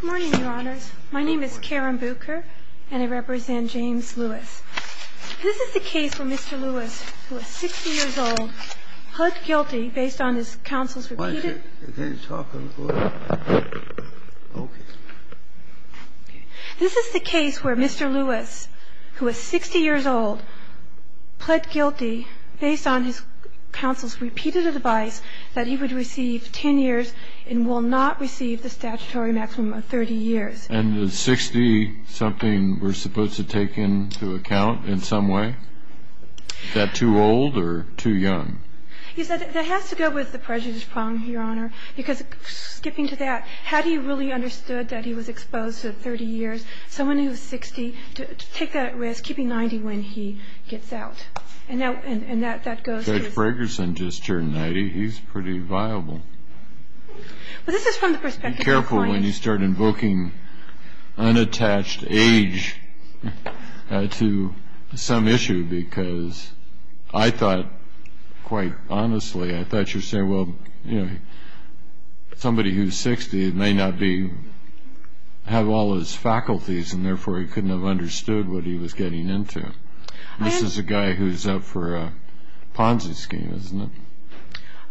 Good morning, Your Honors. My name is Karen Bucher, and I represent James Lewis. This is the case where Mr. Lewis, who is 60 years old, pled guilty based on his counsel's repeated advice that he would receive 10 years and will not receive the statutory maximum sentence. And is 60 something we're supposed to take into account in some way? Is that too old or too young? That has to go with the prejudice problem, Your Honor, because skipping to that, had he really understood that he was exposed to 30 years, someone who is 60, to take that risk, keeping 90 when he gets out. Judge Fragerson just turned 90. He's pretty viable. Be careful when you start invoking unattached age to some issue, because I thought, quite honestly, I thought you were saying, well, you know, somebody who's 60 may not have all his faculties, and therefore he couldn't have understood what he was getting into. This is a guy who's up for a Ponzi scheme, isn't it?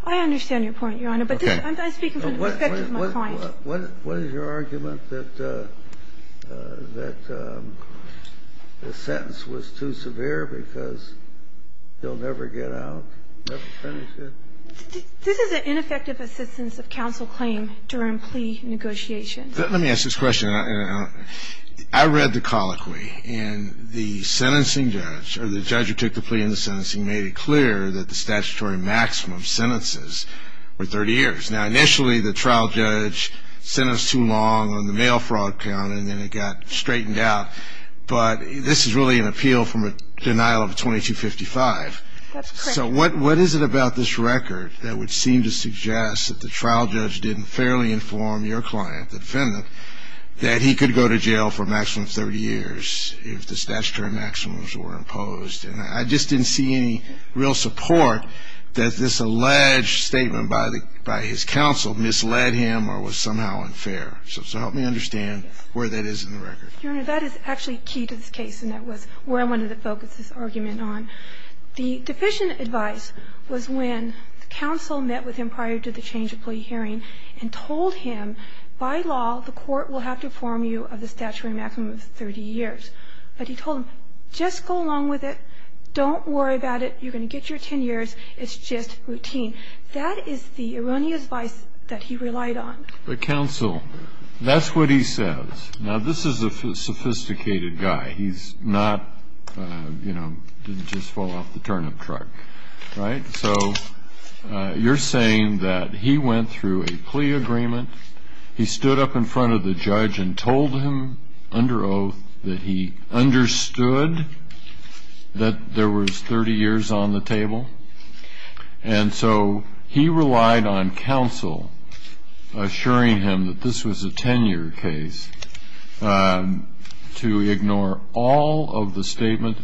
I understand your point, Your Honor, but I'm speaking from the perspective of my client. What is your argument that the sentence was too severe because he'll never get out, never finish it? This is an ineffective assistance of counsel claim during plea negotiations. Let me ask this question. I read the colloquy, and the sentencing judge, or the judge who took the plea into sentencing, made it clear that the statutory maximum sentences were 30 years. Now, initially, the trial judge sentenced too long on the mail fraud count, and then it got straightened out, but this is really an appeal from a denial of 2255. That's correct. So what is it about this record that would seem to suggest that the trial judge didn't fairly inform your client, the defendant, that he could go to jail for a maximum of 30 years if the statutory maximums were imposed? And I just didn't see any real support that this alleged statement by his counsel misled him or was somehow unfair. So help me understand where that is in the record. Your Honor, that is actually key to this case, and that was where I wanted to focus this argument on. The deficient advice was when the counsel met with him prior to the change of plea hearing and told him, by law, the court will have to inform you of the statutory maximum of 30 years. But he told him, just go along with it, don't worry about it, you're going to get your 10 years, it's just routine. That is the erroneous advice that he relied on. But, counsel, that's what he says. Now, this is a sophisticated guy. He's not, you know, didn't just fall off the turnip truck, right? So you're saying that he went through a plea agreement. He stood up in front of the judge and told him under oath that he understood that there was 30 years on the table. And so he relied on counsel assuring him that this was a 10-year case to ignore all of the statements,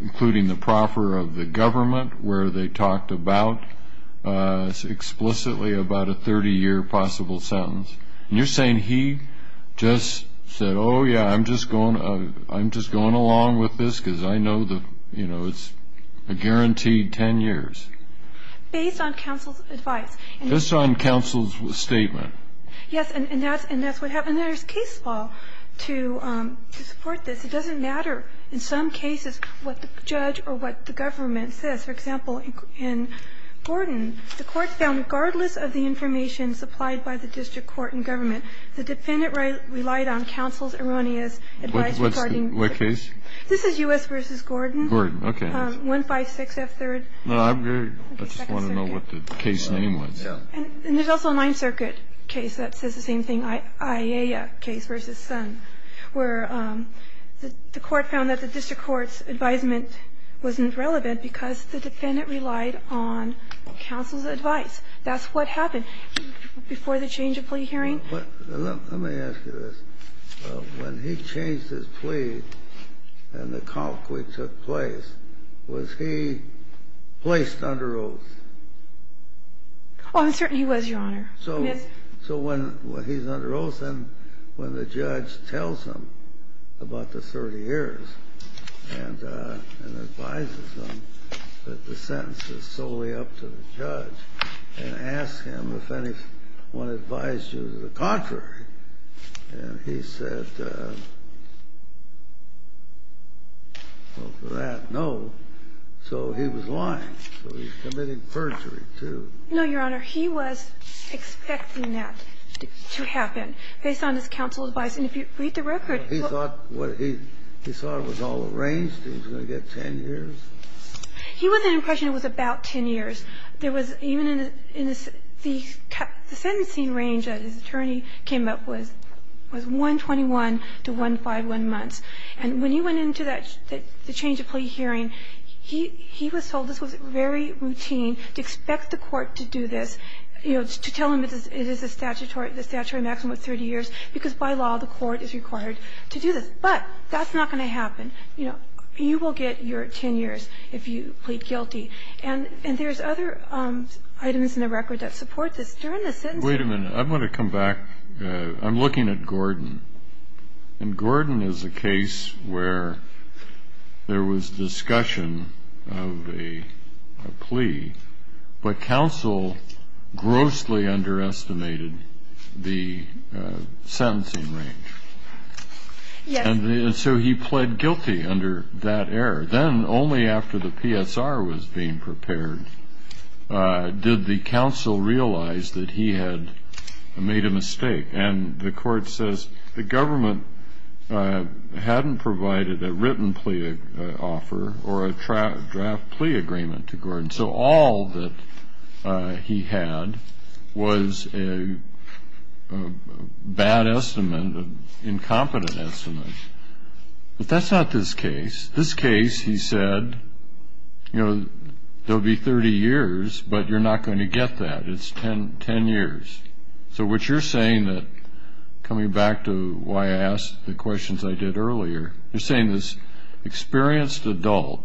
including the proffer of the government where they talked about explicitly about a 30-year possible sentence. And you're saying he just said, oh, yeah, I'm just going along with this because I know the, you know, it's a guaranteed 10 years. Based on counsel's advice. Just on counsel's statement. Yes, and that's what happened. There's case law to support this. It doesn't matter in some cases what the judge or what the government says. For example, in Gordon, the court found regardless of the information supplied by the district court and government, the defendant relied on counsel's erroneous advice regarding the case. What case? This is U.S. v. Gordon. Gordon. Okay. 156F3rd. I just want to know what the case name was. And there's also a Ninth Circuit case that says the same thing, Aiea case v. Sun, where the court found that the district court's advisement wasn't relevant because the defendant relied on counsel's advice. That's what happened before the change of plea hearing. Let me ask you this. When he changed his plea and the convict took place, was he placed under oath? He was, Your Honor. Yes. So when he's under oath and when the judge tells him about the 30 years and advises him that the sentence is solely up to the judge and asks him if anyone advised you to the contrary, he said, well, for that, no. So he was lying. So he's committing perjury, too. No, Your Honor. He was expecting that to happen based on his counsel's advice. And if you read the record, he thought what he he thought it was all arranged, he was going to get 10 years. He was under the impression it was about 10 years. There was even in the sentencing range that his attorney came up was 121 to 151 months. And when he went into that change of plea hearing, he was told this was very routine to expect the court to do this, you know, to tell him it is a statutory maximum of 30 years, because by law the court is required to do this. But that's not going to happen. You know, you will get your 10 years if you plead guilty. And there's other items in the record that support this. During the sentencing. Wait a minute. I'm going to come back. I'm looking at Gordon. And Gordon is a case where there was discussion of a plea, but counsel grossly underestimated the sentencing range. Yes. And so he pled guilty under that error. Then only after the PSR was being prepared did the counsel realize that he had made a mistake. And the court says the government hadn't provided a written plea offer or a draft plea agreement to Gordon. So all that he had was a bad estimate, an incompetent estimate. But that's not this case. This case, he said, you know, there will be 30 years, but you're not going to get that. It's 10 years. So what you're saying, coming back to why I asked the questions I did earlier, you're saying this experienced adult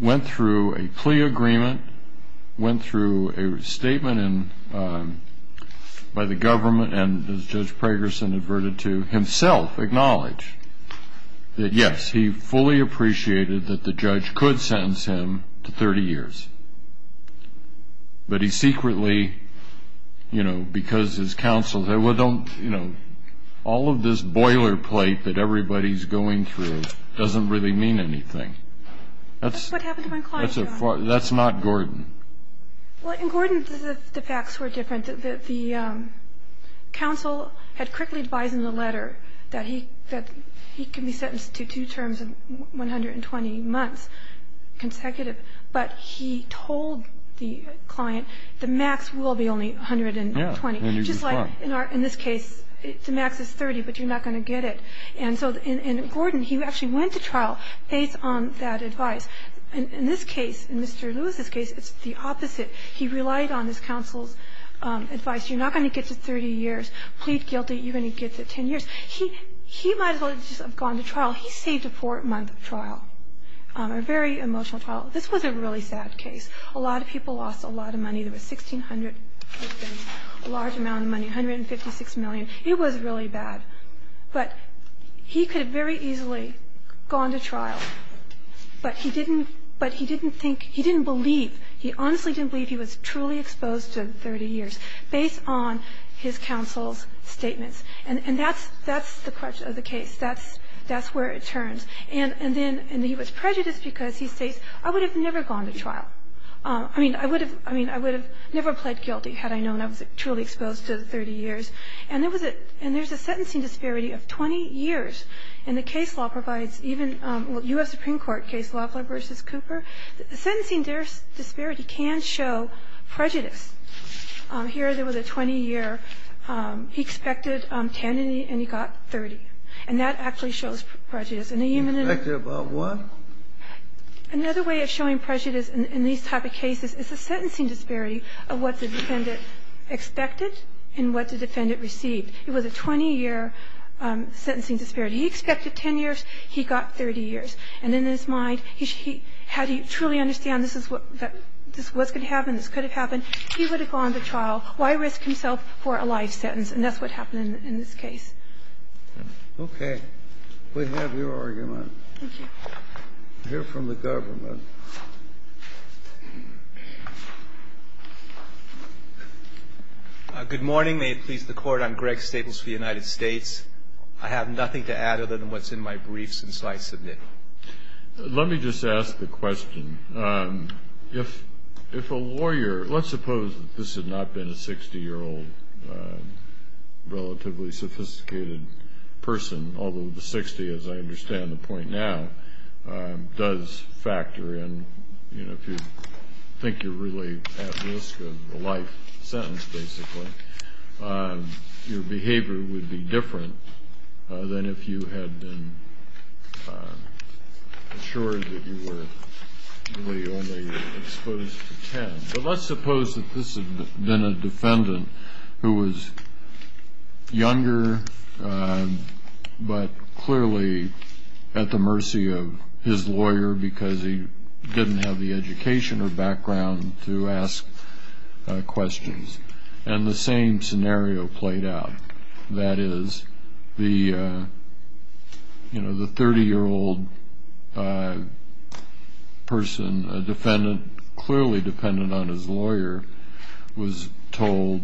went through a plea agreement, went through a statement by the government, and, as Judge Pragerson adverted to himself, acknowledged that, yes, he fully appreciated that the judge could sentence him to 30 years. But he secretly, you know, because his counsel said, well, don't, you know, all of this boilerplate that everybody's going through doesn't really mean anything. That's what happened to my client. That's not Gordon. Well, in Gordon, the facts were different. The counsel had quickly advised in the letter that he could be sentenced to two terms of 120 months consecutive, but he told the client the max will be only 120. Yeah. Just like in this case, the max is 30, but you're not going to get it. And so in Gordon, he actually went to trial based on that advice. In this case, in Mr. Lewis's case, it's the opposite. He relied on his counsel's advice. You're not going to get to 30 years. Plead guilty, you're going to get to 10 years. He might as well just have gone to trial. He saved a four-month trial, a very emotional trial. This was a really sad case. A lot of people lost a lot of money. There were 1,600 victims, a large amount of money, $156 million. It was really bad. But he could have very easily gone to trial, but he didn't think he didn't believe he honestly didn't believe he was truly exposed to 30 years based on his counsel's statements. And that's the crux of the case. That's where it turns. And then he was prejudiced because he states, I would have never gone to trial. I mean, I would have never pled guilty had I known I was truly exposed to 30 years. And there's a sentencing disparity of 20 years. And the case law provides even the U.S. Supreme Court case law versus Cooper. The sentencing disparity can show prejudice. Here, there was a 20-year. He expected 10, and he got 30. And that actually shows prejudice. And even in a human entity. Another way of showing prejudice in these type of cases is the sentencing disparity of what the defendant expected and what the defendant received. It was a 20-year sentencing disparity. He expected 10 years. He got 30 years. And in his mind, he had to truly understand this is what's going to happen. This could have happened. He would have gone to trial. Why risk himself for a life sentence? And that's what happened in this case. Okay. We have your argument. Thank you. I hear from the government. Good morning. May it please the Court. I'm Greg Staples for the United States. I have nothing to add other than what's in my brief since I submitted it. Let me just ask the question. If a lawyer, let's suppose that this had not been a 60-year-old relatively sophisticated person, although the 60, as I understand the point now, does factor in. If you think you're really at risk of a life sentence, basically, your behavior would be different than if you had been assured that you were really only exposed to 10. But let's suppose that this had been a defendant who was younger but clearly at the mercy of his lawyer because he didn't have the education or background to ask questions. And the same scenario played out. That is, the 30-year-old person, a defendant clearly dependent on his lawyer, was told,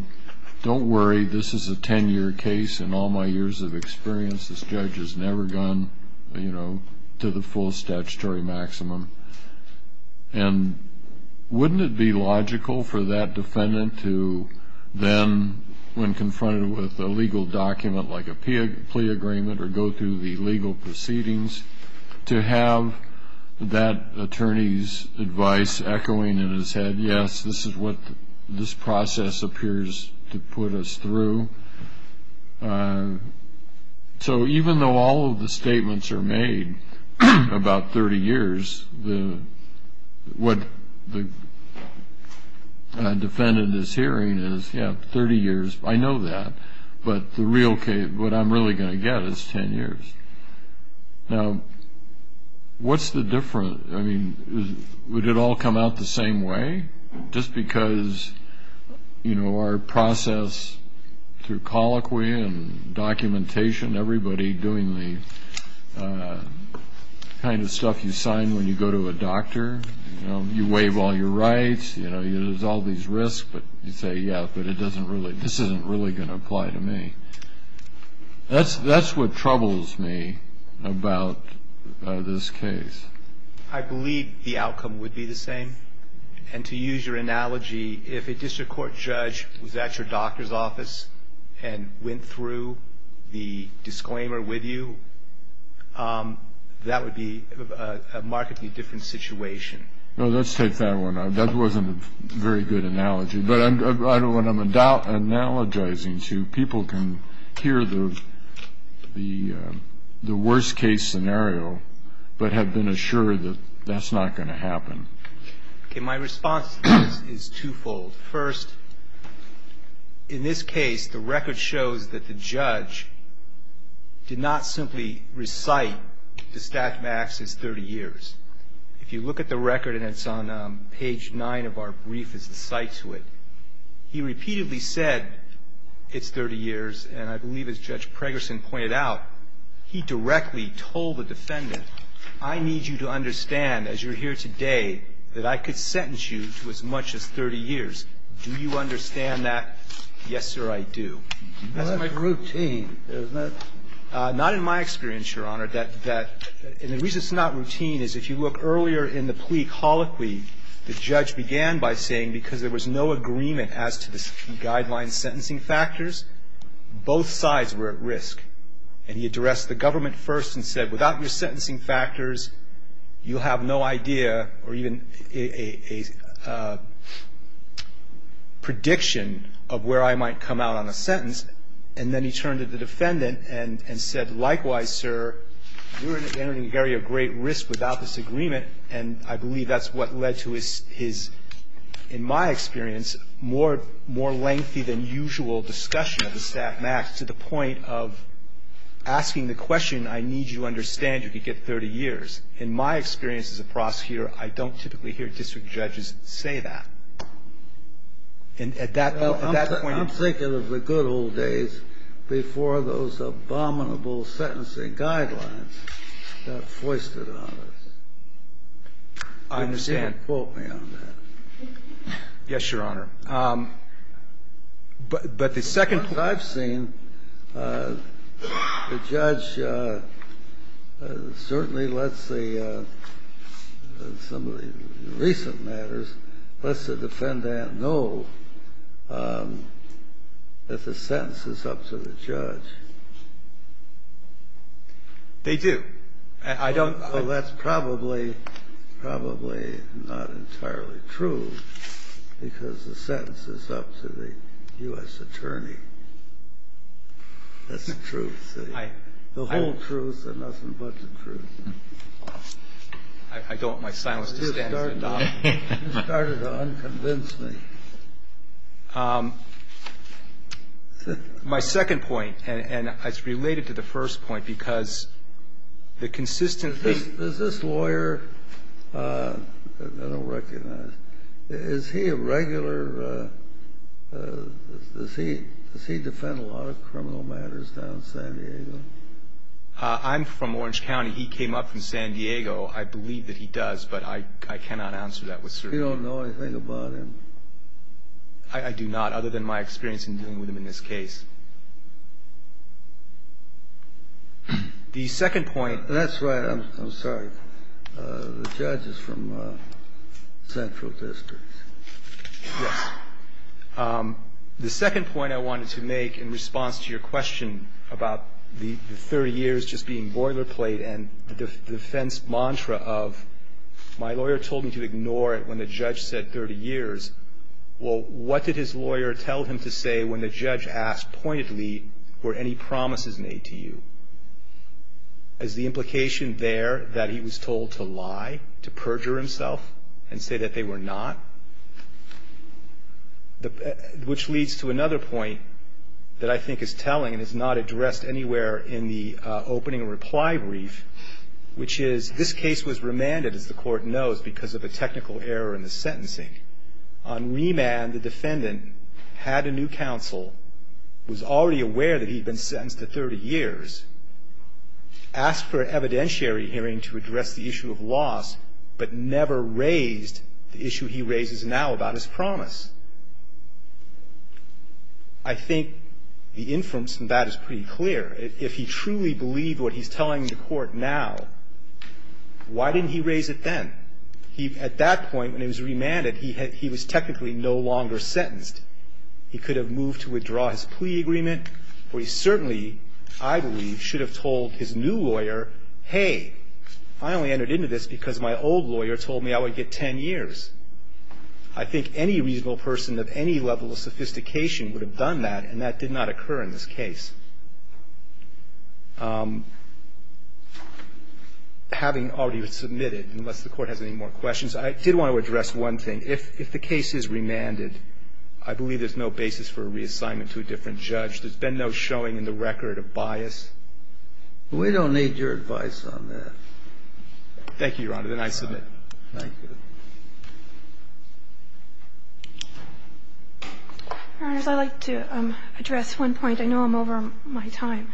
don't worry, this is a 10-year case. In all my years of experience, this judge has never gone to the full statutory maximum. And wouldn't it be logical for that defendant to then, when confronted with a legal document like a plea agreement or go through the legal proceedings, to have that attorney's advice echoing in his head, yes, this is what this process appears to put us through? So even though all of the statements are made about 30 years, what the defendant is hearing is, yes, 30 years, I know that, but the real case, what I'm really going to get is 10 years. Now, what's the difference? I mean, would it all come out the same way? Just because, you know, our process through colloquy and documentation, everybody doing the kind of stuff you sign when you go to a doctor, you know, you waive all your rights, you know, there's all these risks, but you say, yeah, but it doesn't really, this isn't really going to apply to me. That's what troubles me about this case. I believe the outcome would be the same. And to use your analogy, if a district court judge was at your doctor's office and went through the disclaimer with you, that would be a markedly different situation. No, let's take that one. That wasn't a very good analogy, but I know what I'm analogizing to. I mean, people can hear the worst-case scenario, but have been assured that that's not going to happen. Okay, my response to this is twofold. First, in this case, the record shows that the judge did not simply recite the stat max as 30 years. If you look at the record, and it's on page 9 of our brief, there's a cite to it, he repeatedly said, it's 30 years. And I believe, as Judge Pregerson pointed out, he directly told the defendant, I need you to understand, as you're here today, that I could sentence you to as much as 30 years. Do you understand that? Yes, sir, I do. That's my routine. Isn't it? Not in my experience, Your Honor. That the reason it's not routine is if you look earlier in the plea colloquy, the judge began by saying, because there was no agreement as to the guideline sentencing factors, both sides were at risk. And he addressed the government first and said, without your sentencing factors, you'll have no idea or even a prediction of where I might come out on a sentence. And then he turned to the defendant and said, likewise, sir, we're at a very great risk without this agreement, and I believe that's what led to his, in my experience, more lengthy than usual discussion of the staff max to the point of asking the question, I need you to understand you could get 30 years. In my experience as a prosecutor, I don't typically hear district judges say that. And at that point you're ---- I understand. You can quote me on that. Yes, Your Honor. But the second point I've seen, the judge certainly lets the, in some of the recent matters, lets the defendant know that the sentence is up to the judge. They do. I don't ---- Well, that's probably, probably not entirely true, because the sentence is up to the U.S. attorney. That's the truth. The whole truth and nothing but the truth. I don't want my silence to stand. You started to unconvince me. My second point, and it's related to the first point, because the consistent ---- Does this lawyer ---- I don't recognize. Is he a regular ---- does he defend a lot of criminal matters down in San Diego? I'm from Orange County. He came up from San Diego. I believe that he does, but I cannot answer that with certainty. You don't know anything about him? I do not, other than my experience in dealing with him in this case. The second point ---- That's right. I'm sorry. The judge is from Central District. Yes. The second point I wanted to make in response to your question about the 30 years just being boilerplate and the defense mantra of my lawyer told me to ignore it when the judge said 30 years. Well, what did his lawyer tell him to say when the judge asked pointedly were any promises made to you? Is the implication there that he was told to lie, to perjure himself, and say that they were not? Which leads to another point that I think is telling and is not addressed anywhere in the opening reply brief, which is this case was remanded, as the Court knows, because of a technical error in the sentencing. On remand, the defendant had a new counsel, was already aware that he'd been sentenced to 30 years, asked for an evidentiary hearing to address the issue of loss, but never raised the issue he raises now about his promise. I think the inference in that is pretty clear. If he truly believed what he's telling the Court now, why didn't he raise it then? At that point, when he was remanded, he was technically no longer sentenced. He could have moved to withdraw his plea agreement, or he certainly, I believe, should have told his new lawyer, hey, I only entered into this because my old lawyer told me I would get 10 years. I think any reasonable person of any level of sophistication would have done that, and that did not occur in this case. Having already submitted, unless the Court has any more questions, I did want to address one thing. If the case is remanded, I believe there's no basis for a reassignment to a different judge. There's been no showing in the record of bias. We don't need your advice on that. Thank you, Your Honor, then I submit. Thank you. Your Honors, I'd like to address one point. I know I'm over my time.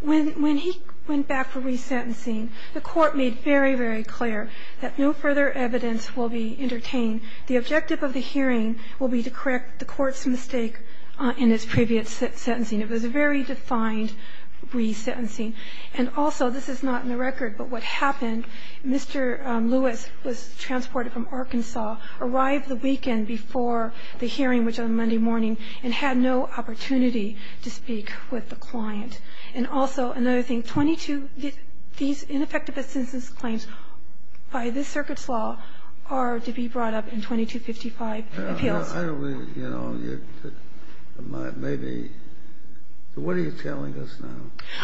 When he went back for resentencing, the Court made very, very clear that no further evidence will be entertained. The objective of the hearing will be to correct the Court's mistake in its previous sentencing. It was a very defined resentencing. And also, this is not in the record, but what happened, Mr. Lewis was transported from Arkansas, arrived the weekend before the hearing, which was on Monday morning, and had no opportunity to speak with the client. And also, another thing, 22, these ineffective assentence claims by this Circuit's law are to be brought up in 2255 appeals. I don't really, you know, maybe. What are you telling us now?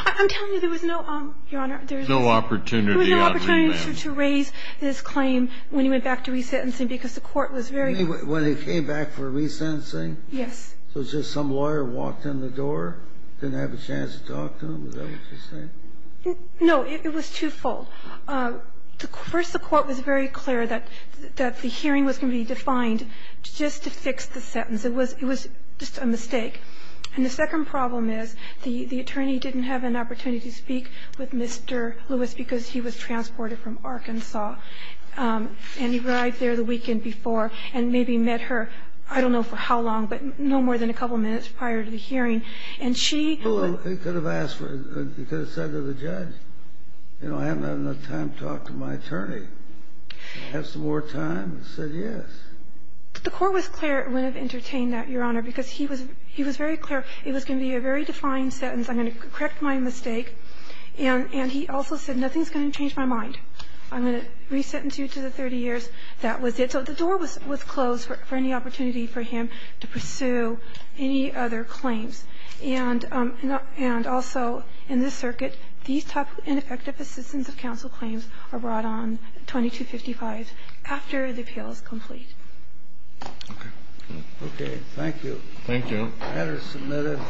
I'm telling you there was no, Your Honor, there was no opportunity to raise this claim when he went back to resentencing because the Court was very. You mean when he came back for resentencing? Yes. So just some lawyer walked in the door, didn't have a chance to talk to him? Is that what you're saying? No. It was twofold. First, the Court was very clear that the hearing was going to be defined just to fix the sentence. It was just a mistake. And the second problem is the attorney didn't have an opportunity to speak with Mr. Lewis because he was transported from Arkansas. And he arrived there the weekend before and maybe met her, I don't know for how long, but no more than a couple of minutes prior to the hearing. And she was going to be there. Well, he could have asked for it. He could have said to the judge, you know, I haven't had enough time to talk to my attorney. Have some more time? He said yes. The Court was clear it wouldn't have entertained that, Your Honor, because he was very clear it was going to be a very defined sentence. I'm going to correct my mistake. And he also said nothing's going to change my mind. I'm going to resentence you to the 30 years. That was it. So the door was closed for any opportunity for him to pursue any other claims. And also in this circuit, these tough and effective assistance of counsel claims are brought on 2255 after the appeal is complete. Okay. Okay. Thank you. Thank you. The matter is submitted.